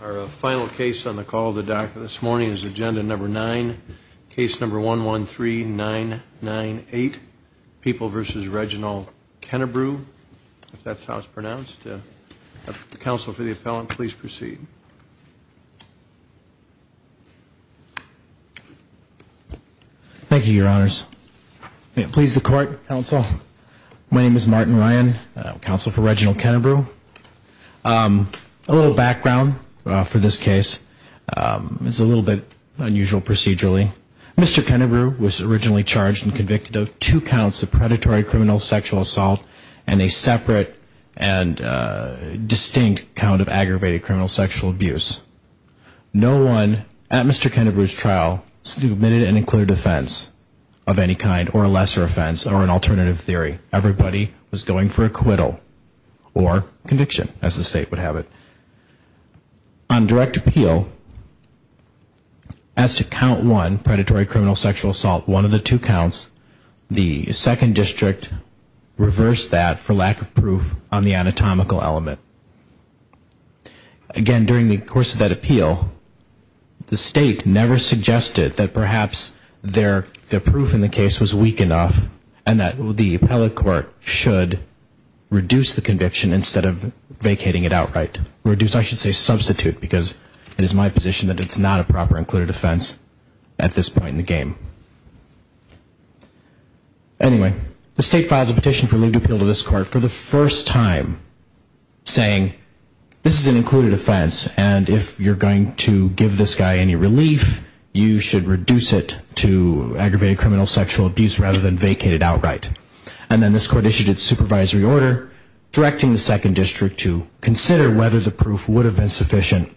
Our final case on the call of the DACA this morning is agenda number nine, case number 113998, People v. Reginald Kennebrew. If that's how it's pronounced. Counsel for the appellant, please proceed. Thank you, your honors. Please the court, counsel. My name is Martin Ryan, counsel for Reginald Kennebrew. A little background for this case. It's a little bit unusual procedurally. Mr. Kennebrew was originally charged and convicted of two counts of predatory criminal sexual assault and a separate and distinct count of aggravated criminal sexual abuse. No one at Mr. Kennebrew's trial submitted an included offense of any kind or a lesser offense or an alternative theory. Everybody was going for acquittal or conviction as the state would have it. On direct appeal, as to count one, predatory criminal sexual assault, one of the two counts, the second district reversed that for lack of proof on the anatomical element. Again, during the course of that appeal, the state never suggested that perhaps their proof in the case was weak enough and that the appellate court should reduce the conviction instead of vacating it outright. Reduce, I should say substitute, because it is my position that it's not a proper included offense at this point in the game. Anyway, the state files a petition for leave to appeal to this court for the first time saying this is an included offense and if you're going to give this guy any relief, you should reduce it to aggravated criminal sexual abuse rather than vacate it outright. And then this court issued its supervisory order directing the second district to consider whether the proof would have been sufficient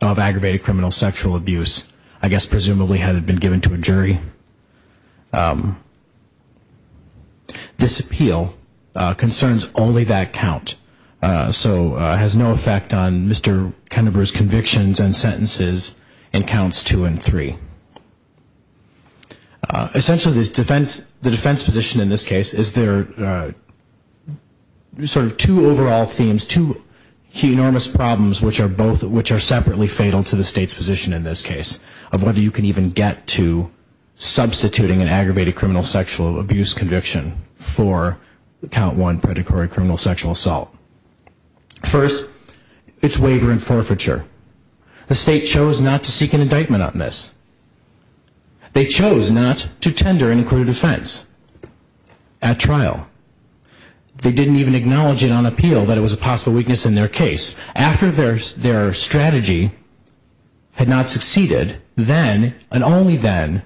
of aggravated criminal sexual abuse, I guess presumably had it been given to a jury. This appeal concerns only that count, so has no effect on Mr. Kennebrew's convictions and sentences in counts two and three. Essentially, the defense position in this case is there are sort of two overall themes, two enormous problems, which are both, which are separately fatal to the state's position in this case, of whether you can even get to substituting an aggravated criminal sexual abuse conviction for count one predatory criminal sexual assault. First, it's waiver and forfeiture. The state chose not to seek an indictment on this. They chose not to tender an included offense at trial. They didn't even acknowledge it on appeal that it was a possible weakness in their case. After their strategy had not succeeded, then and only then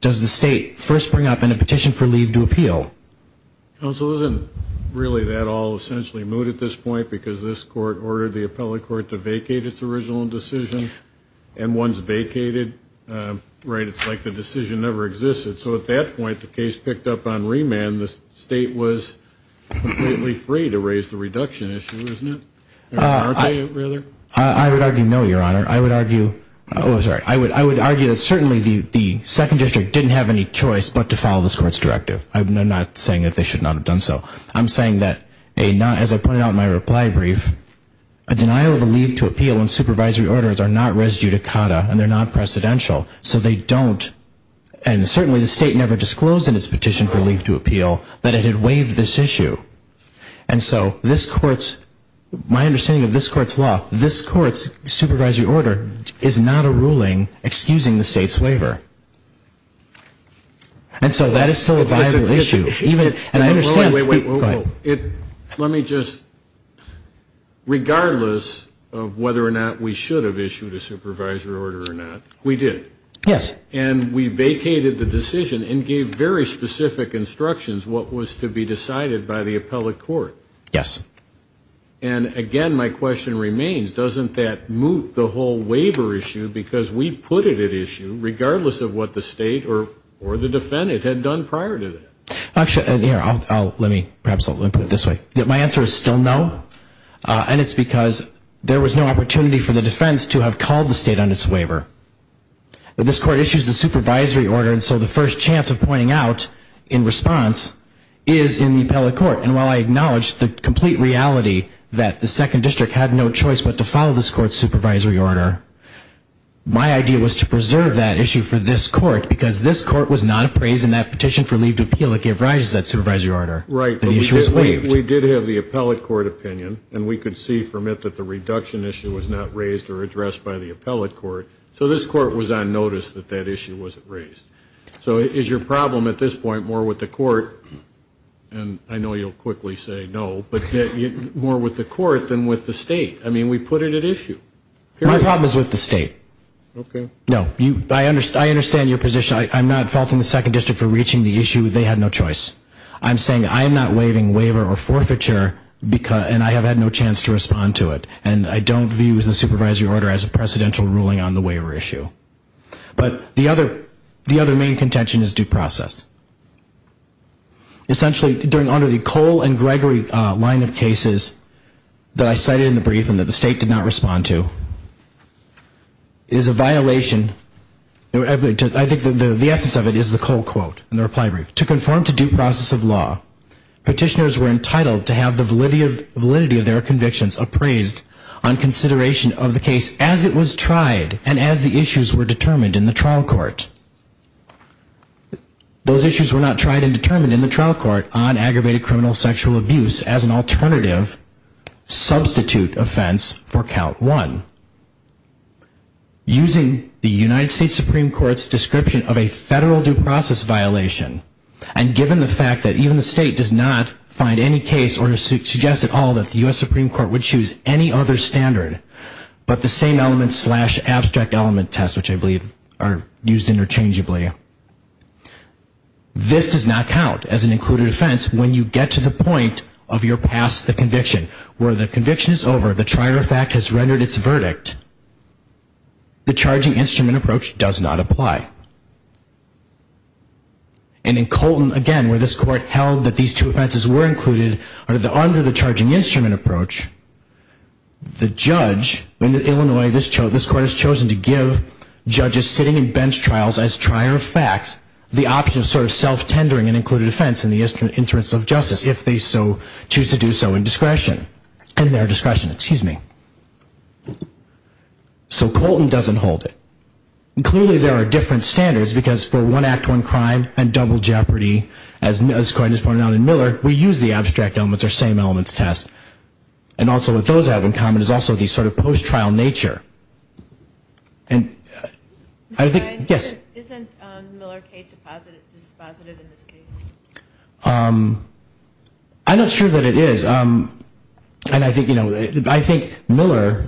does the state first bring up in a petition for leave to appeal. Counsel, isn't really that all essentially moot at this point because this court ordered the appellate court to vacate its original decision and once vacated, right, it's like the decision never existed. So at that point, the case picked up on remand. The state was completely free to raise the reduction issue, isn't it? I would argue no, your honor. I would argue, oh sorry, I would argue that certainly the second district didn't have any choice but to follow this court's directive. I'm not saying that they should not have done so. I'm saying that a not, as I pointed out in my reply brief, a denial of a leave to appeal and supervisory orders are not res judicata and they're not precedential. So they don't, and certainly the state never disclosed in its petition for leave to appeal that it had waived this issue. And so this court's, my understanding of this court's law, this court's supervisory order is not a ruling excusing the state's waiver. And so that is still a viable issue. Wait, wait, wait. Let me just, regardless of whether or not we should have issued a supervisory order or not, we did. Yes. And we vacated the decision and gave very specific instructions what was to be decided by the appellate court. Yes. And again, my question remains, doesn't that moot the whole waiver issue because we put it at issue regardless of what the state or the defendant had done prior to that? Actually, let me, perhaps I'll put it this way. My answer is still no. And it's because there was no opportunity for the defense to have called the state on its waiver. But this court issues the supervisory order, and so the first chance of pointing out in response is in the appellate court. And while I acknowledge the complete reality that the second district had no choice but to follow this court's supervisory order, my idea was to preserve that issue for this court. Because this court was not appraised in that petition for leave to appeal. It gave rise to that supervisory order. Right. But we did have the appellate court opinion, and we could see from it that the reduction issue was not raised or addressed by the appellate court. So this court was on notice that that issue wasn't raised. So is your problem at this point more with the court, and I know you'll quickly say no, but more with the court than with the state? I mean, we put it at issue. My problem is with the state. Okay. No. I understand your position. I'm not faulting the second district for reaching the issue. They had no choice. I'm saying I'm not waiving waiver or forfeiture, and I have had no chance to respond to it. And I don't view the supervisory order as a precedential ruling on the waiver issue. But the other main contention is due process. Essentially, under the Cole and Gregory line of cases that I cited in the brief and that the state did not respond to, it is a violation, I think the essence of it is the Cole quote in the reply brief. To conform to due process of law, petitioners were entitled to have the validity of their convictions appraised on consideration of the case as it was tried and as the issues were determined in the trial court. Those issues were not tried and determined in the trial court on aggravated criminal sexual abuse as an alternative substitute offense for count one. Using the United States Supreme Court's description of a federal due process violation, and given the fact that even the state does not find any case or suggest at all that the U.S. Supreme Court would choose any other standard but the same element slash abstract element test, which I believe are used interchangeably, this does not count as an included offense when you get to the point of your past conviction. Where the conviction is over, the trier of fact has rendered its verdict, the charging instrument approach does not apply. And in Colton, again, where this court held that these two offenses were included under the charging instrument approach, the judge in Illinois, this court has chosen to give judges sitting in bench trials as trier of fact the option of sort of self-tendering an included offense in the interest of justice if they so choose to do so in discretion. In their discretion, excuse me. So Colton doesn't hold it. And clearly there are different standards because for one act, one crime, and double jeopardy, as Coyne just pointed out in Miller, we use the abstract elements or same elements test. And also what those have in common is also the sort of post-trial nature. And I think, yes? Isn't Miller case dispositive in this case? I'm not sure that it is. And I think, you know, I think Miller,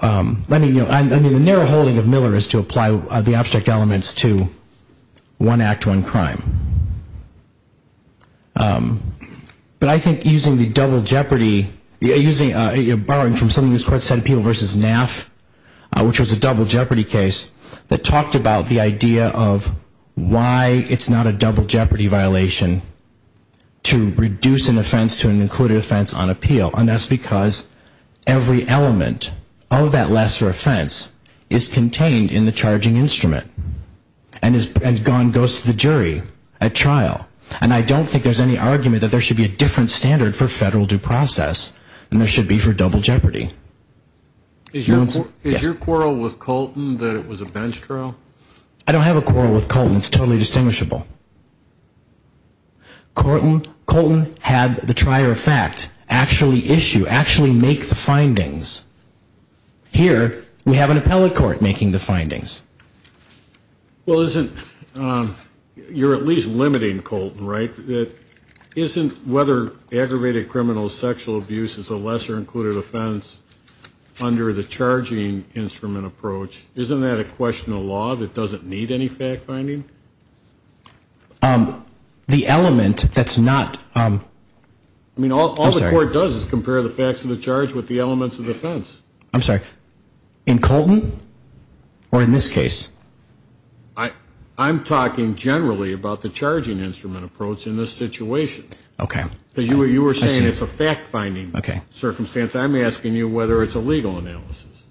I mean, the narrow holding of Miller is to apply the abstract elements to one act, one crime. But I think using the double jeopardy, borrowing from something this court said, Peel v. Naff, which was a double jeopardy case that talked about the idea of why it's not a double jeopardy case. It's a double jeopardy violation to reduce an offense to an included offense on appeal. And that's because every element of that lesser offense is contained in the charging instrument and goes to the jury at trial. And I don't think there's any argument that there should be a different standard for federal due process than there should be for double jeopardy. Is your quarrel with Colton that it was a bench trial? I don't have a quarrel with Colton. It's totally distinguishable. Colton had the trier of fact actually issue, actually make the findings. Here, we have an appellate court making the findings. Well, isn't, you're at least limiting Colton, right? Isn't whether aggravated criminal sexual abuse is a lesser included offense under the charging instrument approach, isn't that a question of law? That doesn't need any fact finding? The element that's not, I'm sorry. I mean, all the court does is compare the facts of the charge with the elements of the offense. I'm sorry, in Colton or in this case? I'm talking generally about the charging instrument approach in this situation. Okay. Because you were saying it's a fact finding circumstance. I'm asking you whether it's a legal analysis.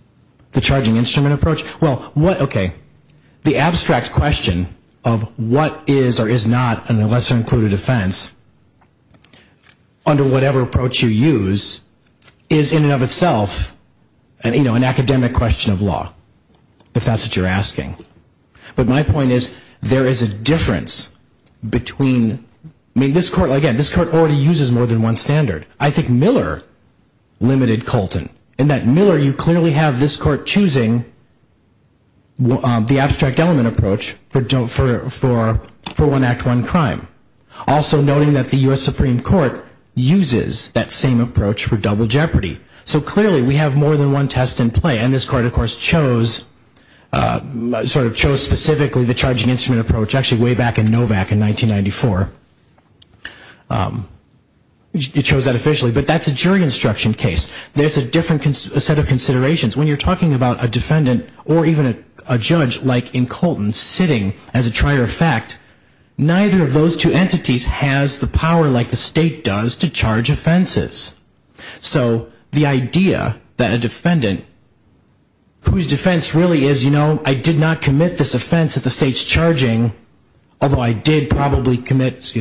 The charging instrument approach? Well, okay, the abstract question of what is or is not a lesser included offense under whatever approach you use is in and of itself an academic question of law. If that's what you're asking. But my point is, there is a difference between, I mean, this court already uses more than one standard. I think Miller limited Colton. In that Miller, you clearly have this court choosing the abstract element approach for one act, one crime. Also noting that the U.S. Supreme Court uses that same approach for double jeopardy. So clearly we have more than one test in play. And this court, of course, chose specifically the charging instrument approach, actually way back in Novak in 1994. It chose that officially, but that's a jury instruction case. There's a different set of considerations. When you're talking about a defendant or even a judge like in Colton sitting as a trier of fact, neither of those two entities has the power like the state does to charge offenses. So the idea that a defendant, whose defense really is, you know, I did not commit this offense that the state's charging, although I did probably commit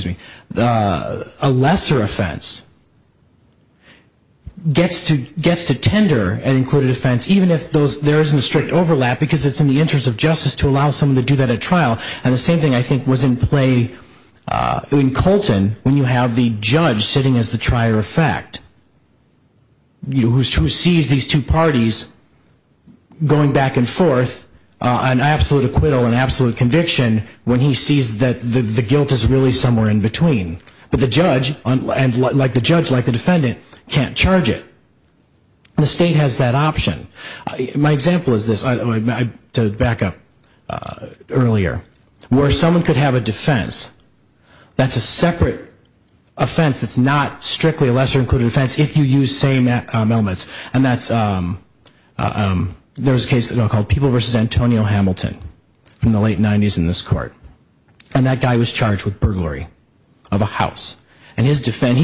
a lesser offense, gets to tender an included offense even if there isn't a strict overlap because it's in the interest of justice to allow someone to do that at trial. And the same thing, I think, was in play in Colton when you have the judge sitting as the trier of fact, who sees these two parties going back and forth on absolute acquittal and absolute conviction when he sees that the guilt is really somewhere in between. But the judge, like the defendant, can't charge it. The state has that option. My example is this, to back up earlier, where someone could have a defense that's a separate offense that's not strictly a lesser included offense if you use same elements. And that's, there was a case called People v. Antonio Hamilton in the late 90s in this court. And that guy was charged with burglary of a house. And he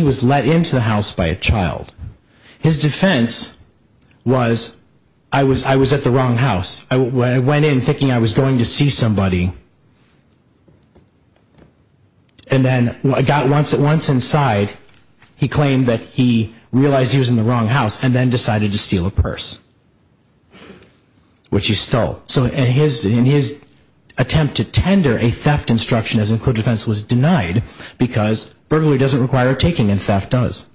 was let into the house by a child. His defense was, I was at the wrong house. I went in thinking I was going to see somebody. And then I got once inside, he claimed that he realized he was in the wrong house and then decided to steal a purse, which he stole. So in his attempt to tender a theft instruction as an included offense was denied because burglary doesn't require taking and theft does.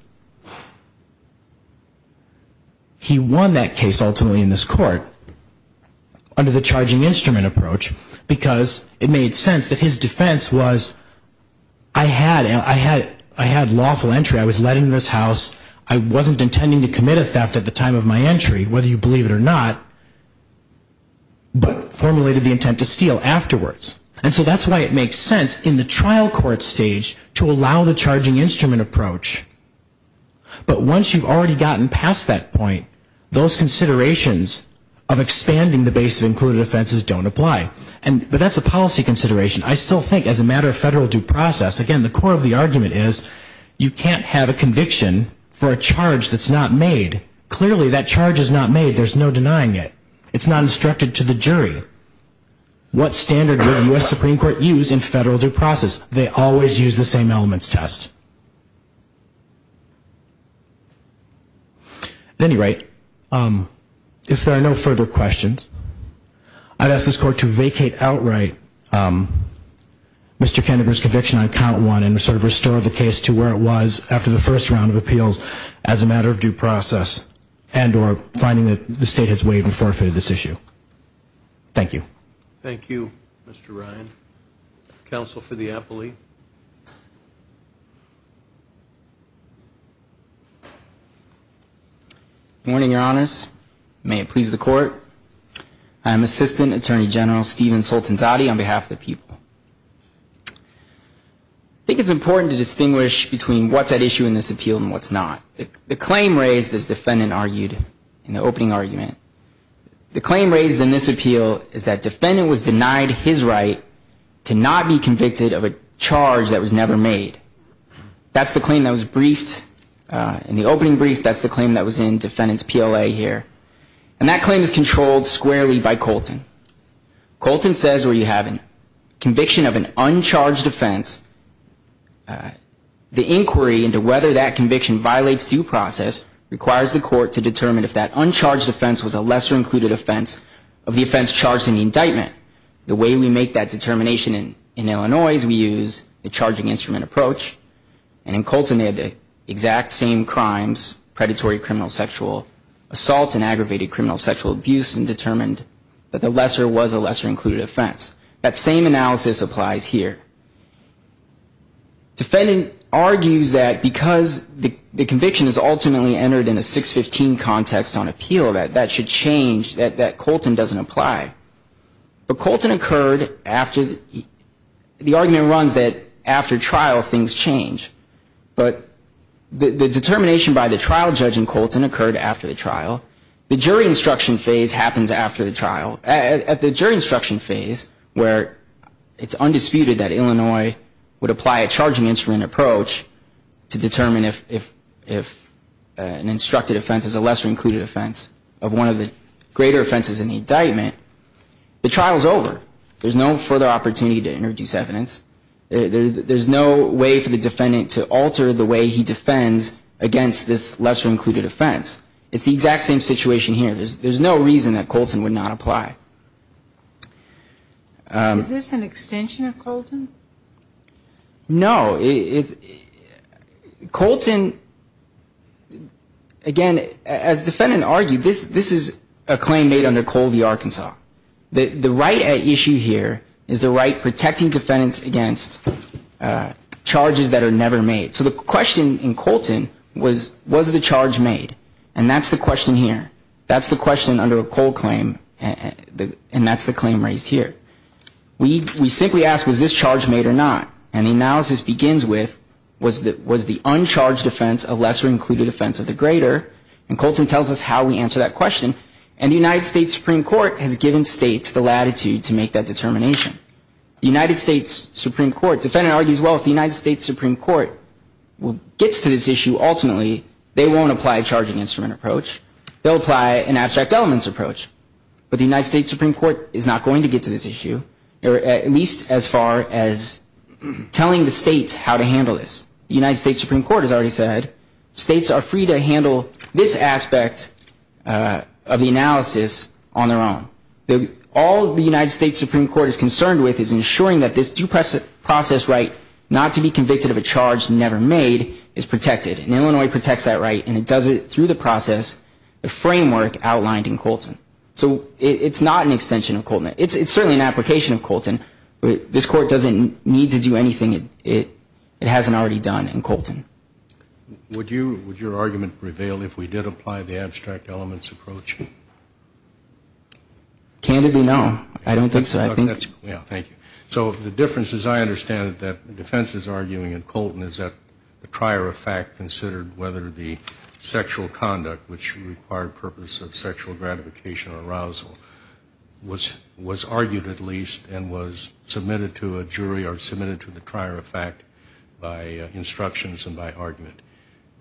He won that case ultimately in this court under the charging instrument approach because it made sense that his defense was, I had lawful entry, I was letting this house, I wasn't intending to commit a theft at the time of my entry, whether you believe it or not, but formulated the intent to steal afterwards. And so that's why it makes sense in the trial court stage to allow the charging instrument approach. But once you've already gotten past that point, those considerations of expanding the base of included offenses don't apply. But that's a policy consideration. I still think as a matter of federal due process, again, the core of the argument is you can't have a conviction for a charge that's not made. Clearly that charge is not made. There's no denying it. It's not instructed to the jury. What standard will the U.S. Supreme Court use in federal due process? They always use the same elements test. At any rate, if there are no further questions, I'd ask this court to vacate outright Mr. Kenneger's conviction on count one and sort of restore the case to where it was after the first round of appeals as a matter of due process and or finding that the state has waived and forfeited this issue. Thank you. Thank you, Mr. Ryan. Counsel for the appellee. Good morning, Your Honors. May it please the court. I am Assistant Attorney General Stephen Soltanzade on behalf of the people. I think it's important to distinguish between what's at issue in this appeal and what's not. The claim raised as defendant argued in the opening argument, the claim raised in this appeal is that defendant was denied his right to not be convicted of a charge that was never made. That's the claim that was briefed in the opening brief. That's the claim that was in defendant's PLA here. And that claim is controlled squarely by Colton. Colton says where you have a conviction of an uncharged offense, the inquiry into whether that conviction violates due process requires the court to determine if that uncharged offense was a lesser included offense of the offense charged in the indictment. The way we make that determination in Illinois is we use the charging instrument approach. And in Colton they have the exact same crimes, predatory criminal sexual assault and aggravated criminal sexual abuse and determined that the lesser was a lesser included offense. That same analysis applies here. Defendant argues that because the conviction is ultimately entered in a 615 context on appeal that that should change, that Colton doesn't apply. But Colton occurred after the argument runs that after trial things change. But the determination by the trial judge in Colton occurred after the trial. The jury instruction phase happens after the trial. At the jury instruction phase where it's undisputed that Illinois would apply a charging instrument approach to determine if an instructed offense is a lesser included offense of one of the greater offenses in the indictment, the trial is over. There's no further opportunity to introduce evidence. There's no way for the defendant to alter the way he defends against this lesser included offense. It's the exact same situation here. There's no reason that Colton would not apply. Is this an extension of Colton? No. Colton, again, as defendant argued, this is a claim made under Colby Arkansas. The right at issue here is the right protecting defendants against charges that are never made. So the question is, was the charge made? And that's the question here. That's the question under a Cole claim, and that's the claim raised here. We simply ask, was this charge made or not? And the analysis begins with was the uncharged offense a lesser included offense of the greater? And Colton tells us how we answer that question. And the United States Supreme Court has given states the latitude to make that determination. The United States Supreme Court, the defendant argues, well, if the United States Supreme Court gets to this issue, ultimately, they won't apply a charging instrument approach. They'll apply an abstract elements approach. But the United States Supreme Court is not going to get to this issue, at least as far as telling the states how to handle this. The United States Supreme Court has already said states are free to handle this aspect of the analysis on their own. All the United States Supreme Court is concerned with is ensuring that this due process right not to be convicted of a charge never made is protected. And Illinois protects that right and it does it through the process, the framework outlined in Colton. So it's not an extension of Colton. It's certainly an application of Colton. This court doesn't need to do anything it hasn't already done in Colton. Would you, would your argument prevail if we did apply the abstract elements approach? Candidly, no. I don't think so. Yeah, thank you. So the difference is I understand that the defense is arguing in Colton is that the trier of fact considered whether the sexual conduct which required purpose of sexual gratification or arousal was argued at least and was submitted to a jury or submitted to the trier of fact by instructions and by argument.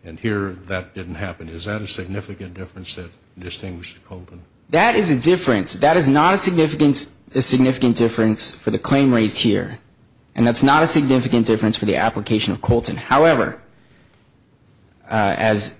And here that didn't happen. Is that a significant difference that distinguished Colton? That is a difference. That is not a significant difference for the claim raised here. And that's not a significant difference for the application of Colton. However, as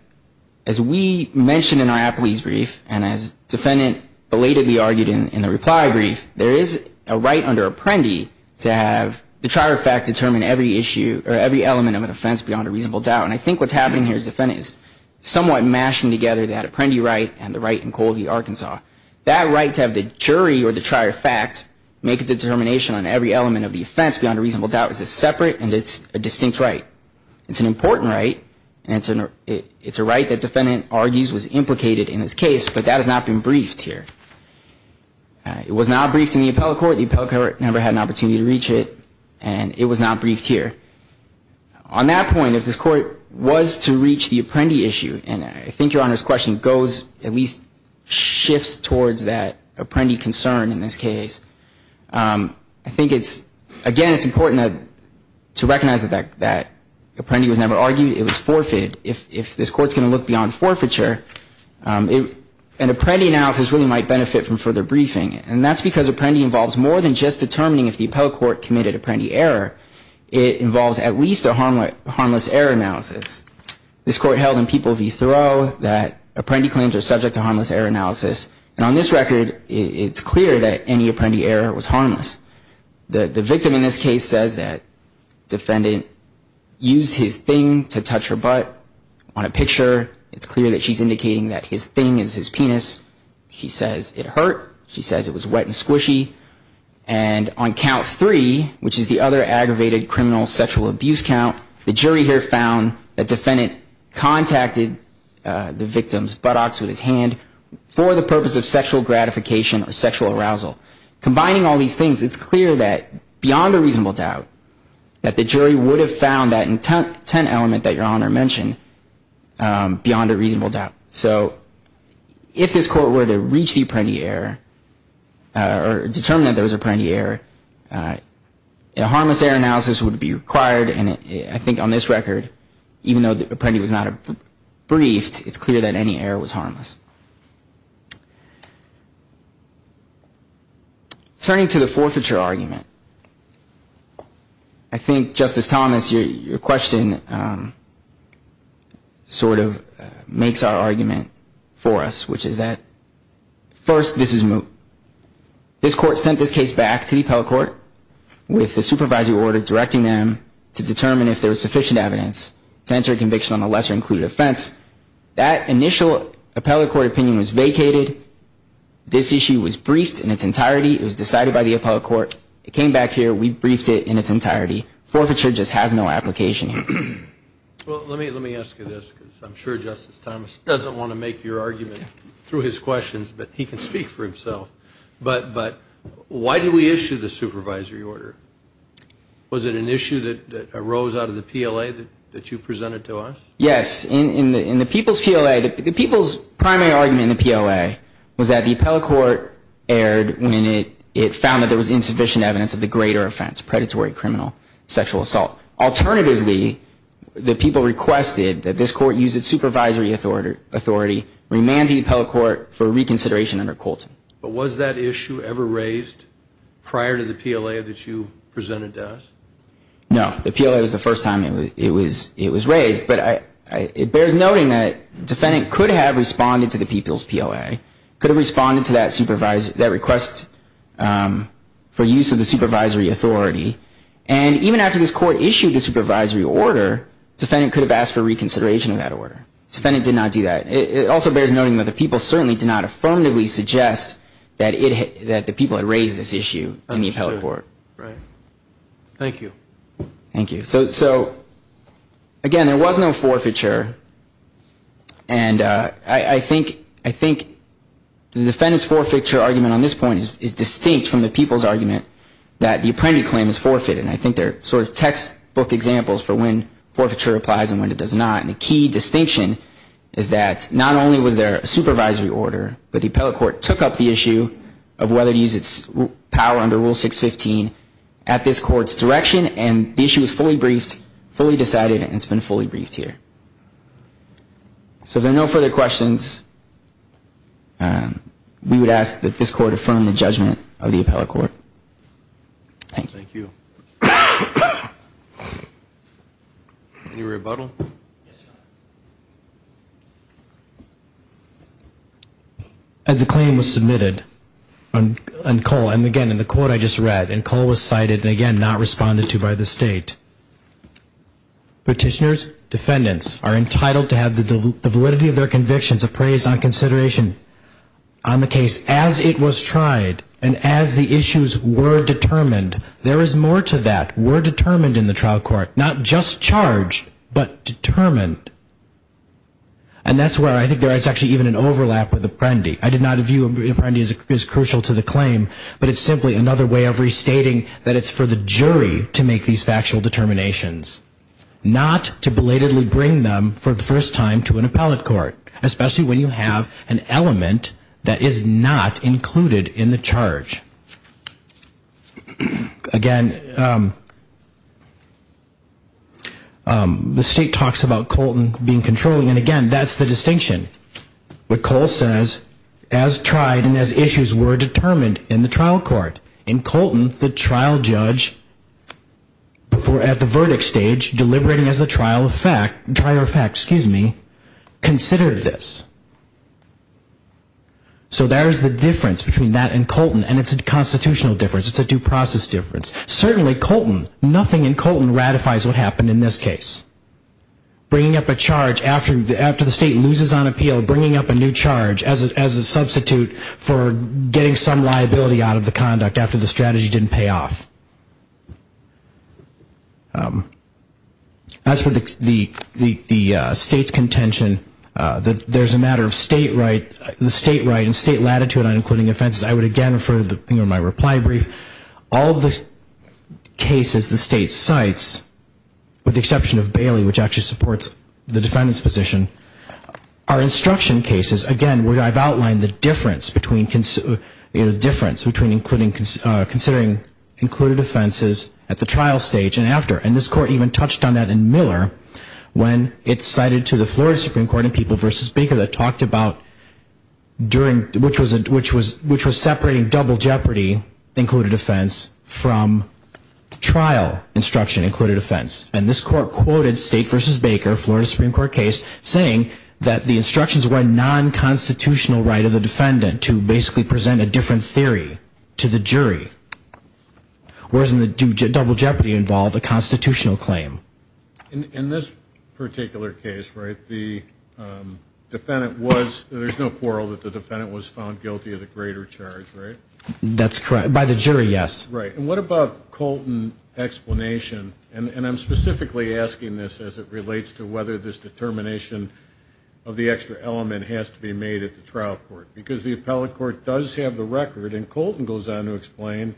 we mentioned in our appellee's brief and as defendant belatedly argued in the reply brief, there is a right under Apprendi to have the trier of fact determine every issue or every element of an offense beyond a reasonable doubt. And I think what's happening here is the defendant is somewhat mashing together that Apprendi right and the right in Colby, Arkansas. That right to have the jury or the trier of fact make a determination on every element of the offense beyond a reasonable doubt is a separate and it's a distinct right. It's an important right and it's a right that defendant argues was implicated in this case but that has not been briefed here. It was not briefed in the appellate court. The appellate court never had an opportunity to reach it and it was not briefed here. On that point, if this court was to reach the Apprendi issue, and I think Your Honor's question goes at least shifts towards that Apprendi concern in this case, I think it's, again, it's important to recognize that Apprendi was never argued. It was forfeited. If this court's going to look beyond forfeiture, an Apprendi analysis really might benefit from further briefing and that's because Apprendi involves more than just determining if the appellate court committed Apprendi error. It involves at least a harmless error analysis. This court held in People v. Thoreau that Apprendi claims are subject to harmless error analysis and on this record, it's clear that any Apprendi error was harmless. The victim in this case says that defendant used his thing to touch her butt. On a picture, it's clear that she's indicating that his thing is his penis. She says it hurt. She says it was wet and squishy and on count three, which is the other aggravated criminal sexual abuse count, the jury here found that defendant contacted the victim's buttocks with his hand for the purpose of sexual gratification or sexual arousal. Combining all these things, it's clear that beyond a reasonable doubt, that the jury would have found that intent element that Your Honor mentioned beyond a reasonable doubt. So if this court were to reach the Apprendi error or determine that there was Apprendi error, a harmless error analysis would be required and I think on this record, even though Apprendi was not briefed, it's clear that any error was harmless. Turning to the forfeiture argument, I think Justice Thomas, your question sort of makes our argument for us, which is that first, this court sent this case back to the appellate court with the supervisory order directing them to determine if there was sufficient evidence to answer a conviction on a lesser included offense. That initial appellate court opinion was vacated. This issue was briefed in its entirety. It was decided by the appellate court. It came back here. We briefed it in its entirety. Forfeiture just has no application here. Well, let me ask you this because I'm sure Justice Thomas doesn't want to make your argument through his questions, but he can speak for himself. But why did we issue the supervisory order? Was it an issue that arose out of the PLA that you presented to us? Yes. In the people's PLA, the people's primary argument in the PLA was that the appellate court erred when it found that there was insufficient evidence of the greater offense, predatory criminal sexual assault. Alternatively, the people requested that this court use its supervisory authority, remanded the appellate court for reconsideration under Colton. But was that issue ever raised prior to the PLA that you presented to us? No. The PLA was the first time it was raised. But it bears noting that the defendant could have responded to the people's PLA, could have responded to that request for use of the supervisory authority. And even after this court issued the supervisory order, the defendant could have asked for reconsideration of that order. The defendant did not do that. It also bears noting that the people certainly did not affirmatively suggest that the people had raised this issue in the appellate court. Thank you. Thank you. So again, there was no forfeiture. And I think the defendant's forfeiture argument on this point is distinct from the people's argument that the apprentice claim is forfeited. And I think they're sort of textbook examples for when forfeiture applies and when it does not. And a key distinction is that not only was there a supervisory order, but the appellate court took up the issue of whether to use its power under Rule 615 at this court's direction. And the issue was fully briefed, fully decided, and it's been fully briefed here. So if there are no further questions, we would ask that this court affirm the judgment of the appellate court. Thank you. Thank you. Any rebuttal? As the claim was submitted on Cull, and again, in the court I just read, and Cull was cited and again not responded to by the State, petitioners, defendants, are entitled to have the validity of their convictions appraised on consideration on the case as it was tried and as the issues were determined. There is more to that. We're determined in the trial court, not just charged, but determined. And that's where I think there's actually even an overlap with Apprendi. I did not view Apprendi as crucial to the claim, but it's simply another way of restating that it's for the jury to make these factual determinations, not to belatedly bring them for the first time to an appellate court, especially when you have an element that is not included in the charge. Again, the State talks about Colton being controlling, and again, that's the distinction. What Cull says, as tried and as issues were determined in the trial court. In Colton, the trial judge at the verdict stage, deliberating as a trial of fact, considered this. So there's the difference between that and Colton, and it's a constitutional difference. It's a due process difference. Certainly Colton, nothing in Colton ratifies what happened in this case. Bringing up a charge after the State loses on appeal, bringing up a new charge as a substitute for getting some liability out of the conduct after the strategy didn't pay off. As for the State's contention that there's a matter of State right and State latitude on including offenses, I would again refer to my reply brief. All of the cases the State cites, with the exception of Bailey, which actually supports the defendant's position, are instruction cases, again, where I've outlined the difference between considering included offenses at the trial stage and after. And this court even touched on that in Miller, when it's cited to the Florida Supreme Court in People v. Baker that talked about during, which was separating double jeopardy, included offense, from trial instruction, included offense. And this court quoted State v. Baker, Florida Supreme Court case, saying that the instructions were non-constitutional right of the defendant to basically present a different theory to the jury. Whereas in the double jeopardy involved, a constitutional claim. In this particular case, right, the defendant was found guilty of the greater charge, right? And what about Colton's explanation, and I'm specifically asking this as it relates to whether this determination of the extra element has to be made at the trial court. Because the appellate court does have the record, and Colton goes on to explain,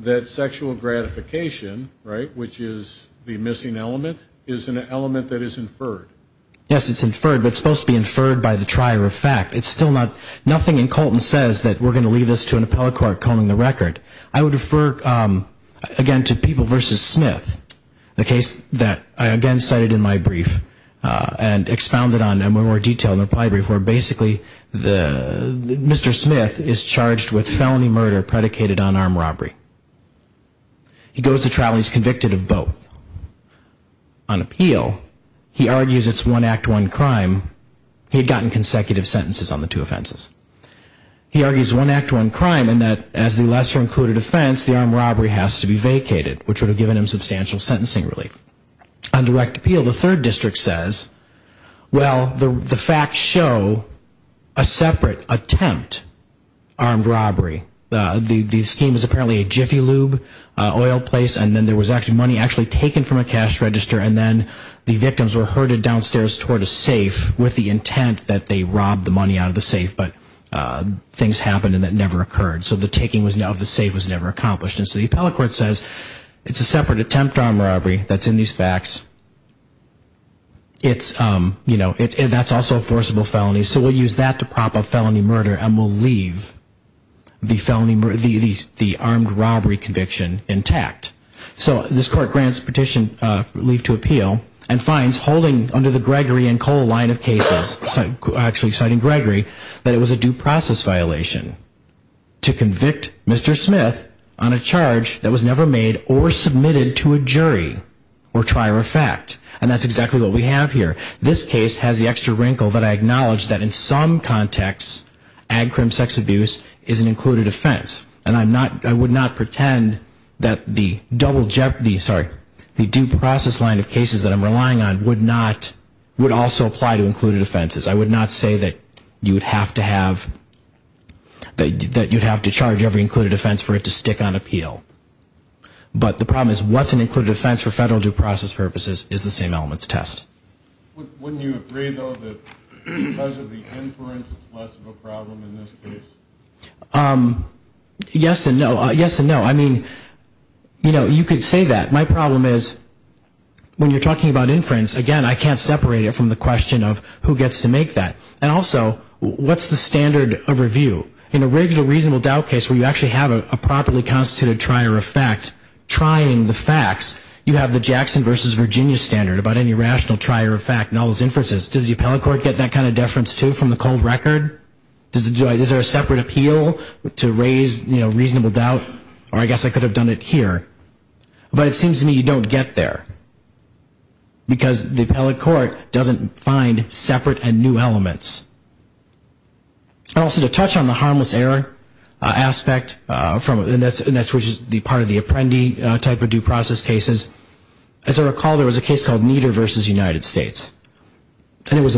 that sexual gratification, right, which is the missing element, is an element that is inferred. Yes, it's inferred, but it's supposed to be inferred by the trier of fact. It's still not, nothing in Colton says that we're going to leave this to an appellate court calling the record. I would refer again to People v. Smith. The case that I again cited in my brief, and expounded on in more detail in my brief, where basically Mr. Smith is charged with felony murder predicated on armed robbery. He goes to trial and he's convicted of both. On appeal, he argues it's one act, one crime. He had gotten consecutive sentences on the two offenses. He argues one act, one crime, and that as the lesser included offense, the armed robbery has to be vacated, which would have given him substantial sentencing relief. On direct appeal, the third district says, well, the facts show a separate attempt armed robbery. The scheme is apparently a Jiffy Lube oil place and then there was money actually taken from a cash register and then the victims were herded downstairs toward a safe with the intent that they robbed the money out of the safe, but things happened and that never occurred. The taking of the safe was never accomplished. The appellate court says it's a separate attempt armed robbery that's in these facts. That's also a forcible felony, so we'll use that to prop up felony murder and we'll leave the armed robbery conviction intact. So this court grants petition relief to appeal and finds holding under the Gregory and Cole line of cases, actually citing Gregory, that it was a due process violation to convict Mr. Smith on a charge that was never made or submitted to a jury or trier of fact. And that's exactly what we have here. This case has the extra wrinkle that I acknowledge that in some contexts, ag crime sex abuse is an included offense. And I'm not, I would not pretend that the double jeopardy, sorry, the due process line of cases that I'm relying on would not, would also apply to included offenses. I would not say that you would have to have, that you'd have to charge every included offense for it to stick on appeal. But the problem is what's an included offense for federal due process purposes is the same elements test. Wouldn't you agree though that because of the inference it's less of a yes and no, yes and no. I mean, you know, you could say that. My problem is when you're talking about inference, again, I can't separate it from the question of who gets to make that. And also, what's the standard of review? In a regular reasonable doubt case where you actually have a properly constituted trier of fact trying the facts, you have the Jackson versus Virginia standard about any rational trier of fact nulls inferences. Does the appellate court get that kind of deference too from the cold record? Is there a separate appeal to raise, you know, reasonable doubt? Or I guess I could have done it here. But it seems to me you don't get there. Because the appellate court doesn't find separate and new elements. And also to touch on the harmless error aspect, and that's which is the part of the apprendee type of due process cases, as I recall there was a case called Nieder versus United States. It was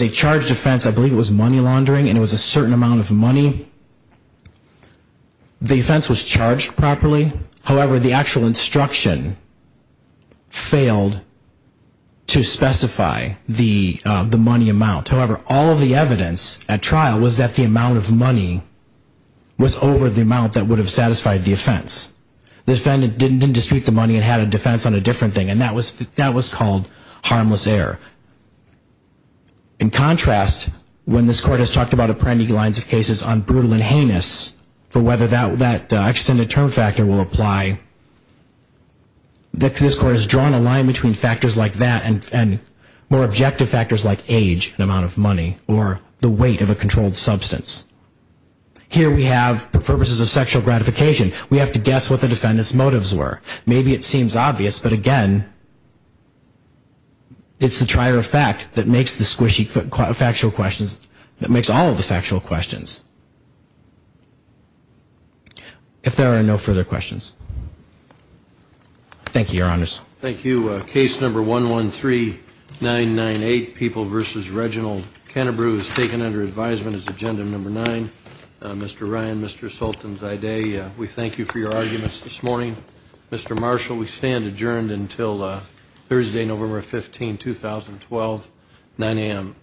a charged offense. I believe it was money laundering and it was a certain amount of money. The offense was charged properly. However, the actual instruction failed to specify the money amount. However, all of the evidence at trial was that the amount of money was over the amount that would have satisfied the offense. The defendant didn't dispute the money and had a defense on a different thing. And that was called harmless error. In contrast, when this court has talked about apprendee lines of cases on brutal and heinous, for whether that extended term factor will apply, this court has drawn a line between factors like that and more objective factors like age, the amount of money, or the weight of a controlled substance. Here we have purposes of sexual gratification. We have to guess what the defendant's motives were. Maybe it seems obvious, but again, it's the trier of fact that makes the squishy factual questions, that makes all of the factual questions. If there are no further questions. Thank you, Your Honors. Thank you. Case number 113998, People versus Reginald Canterbrew, is taken under advisement as agenda number 9. Mr. Ryan, Mr. Sultanzadeh, we thank you for your arguments this morning. Mr. Marshall, we stand adjourned until Thursday, November 15, 2012, 9 a.m.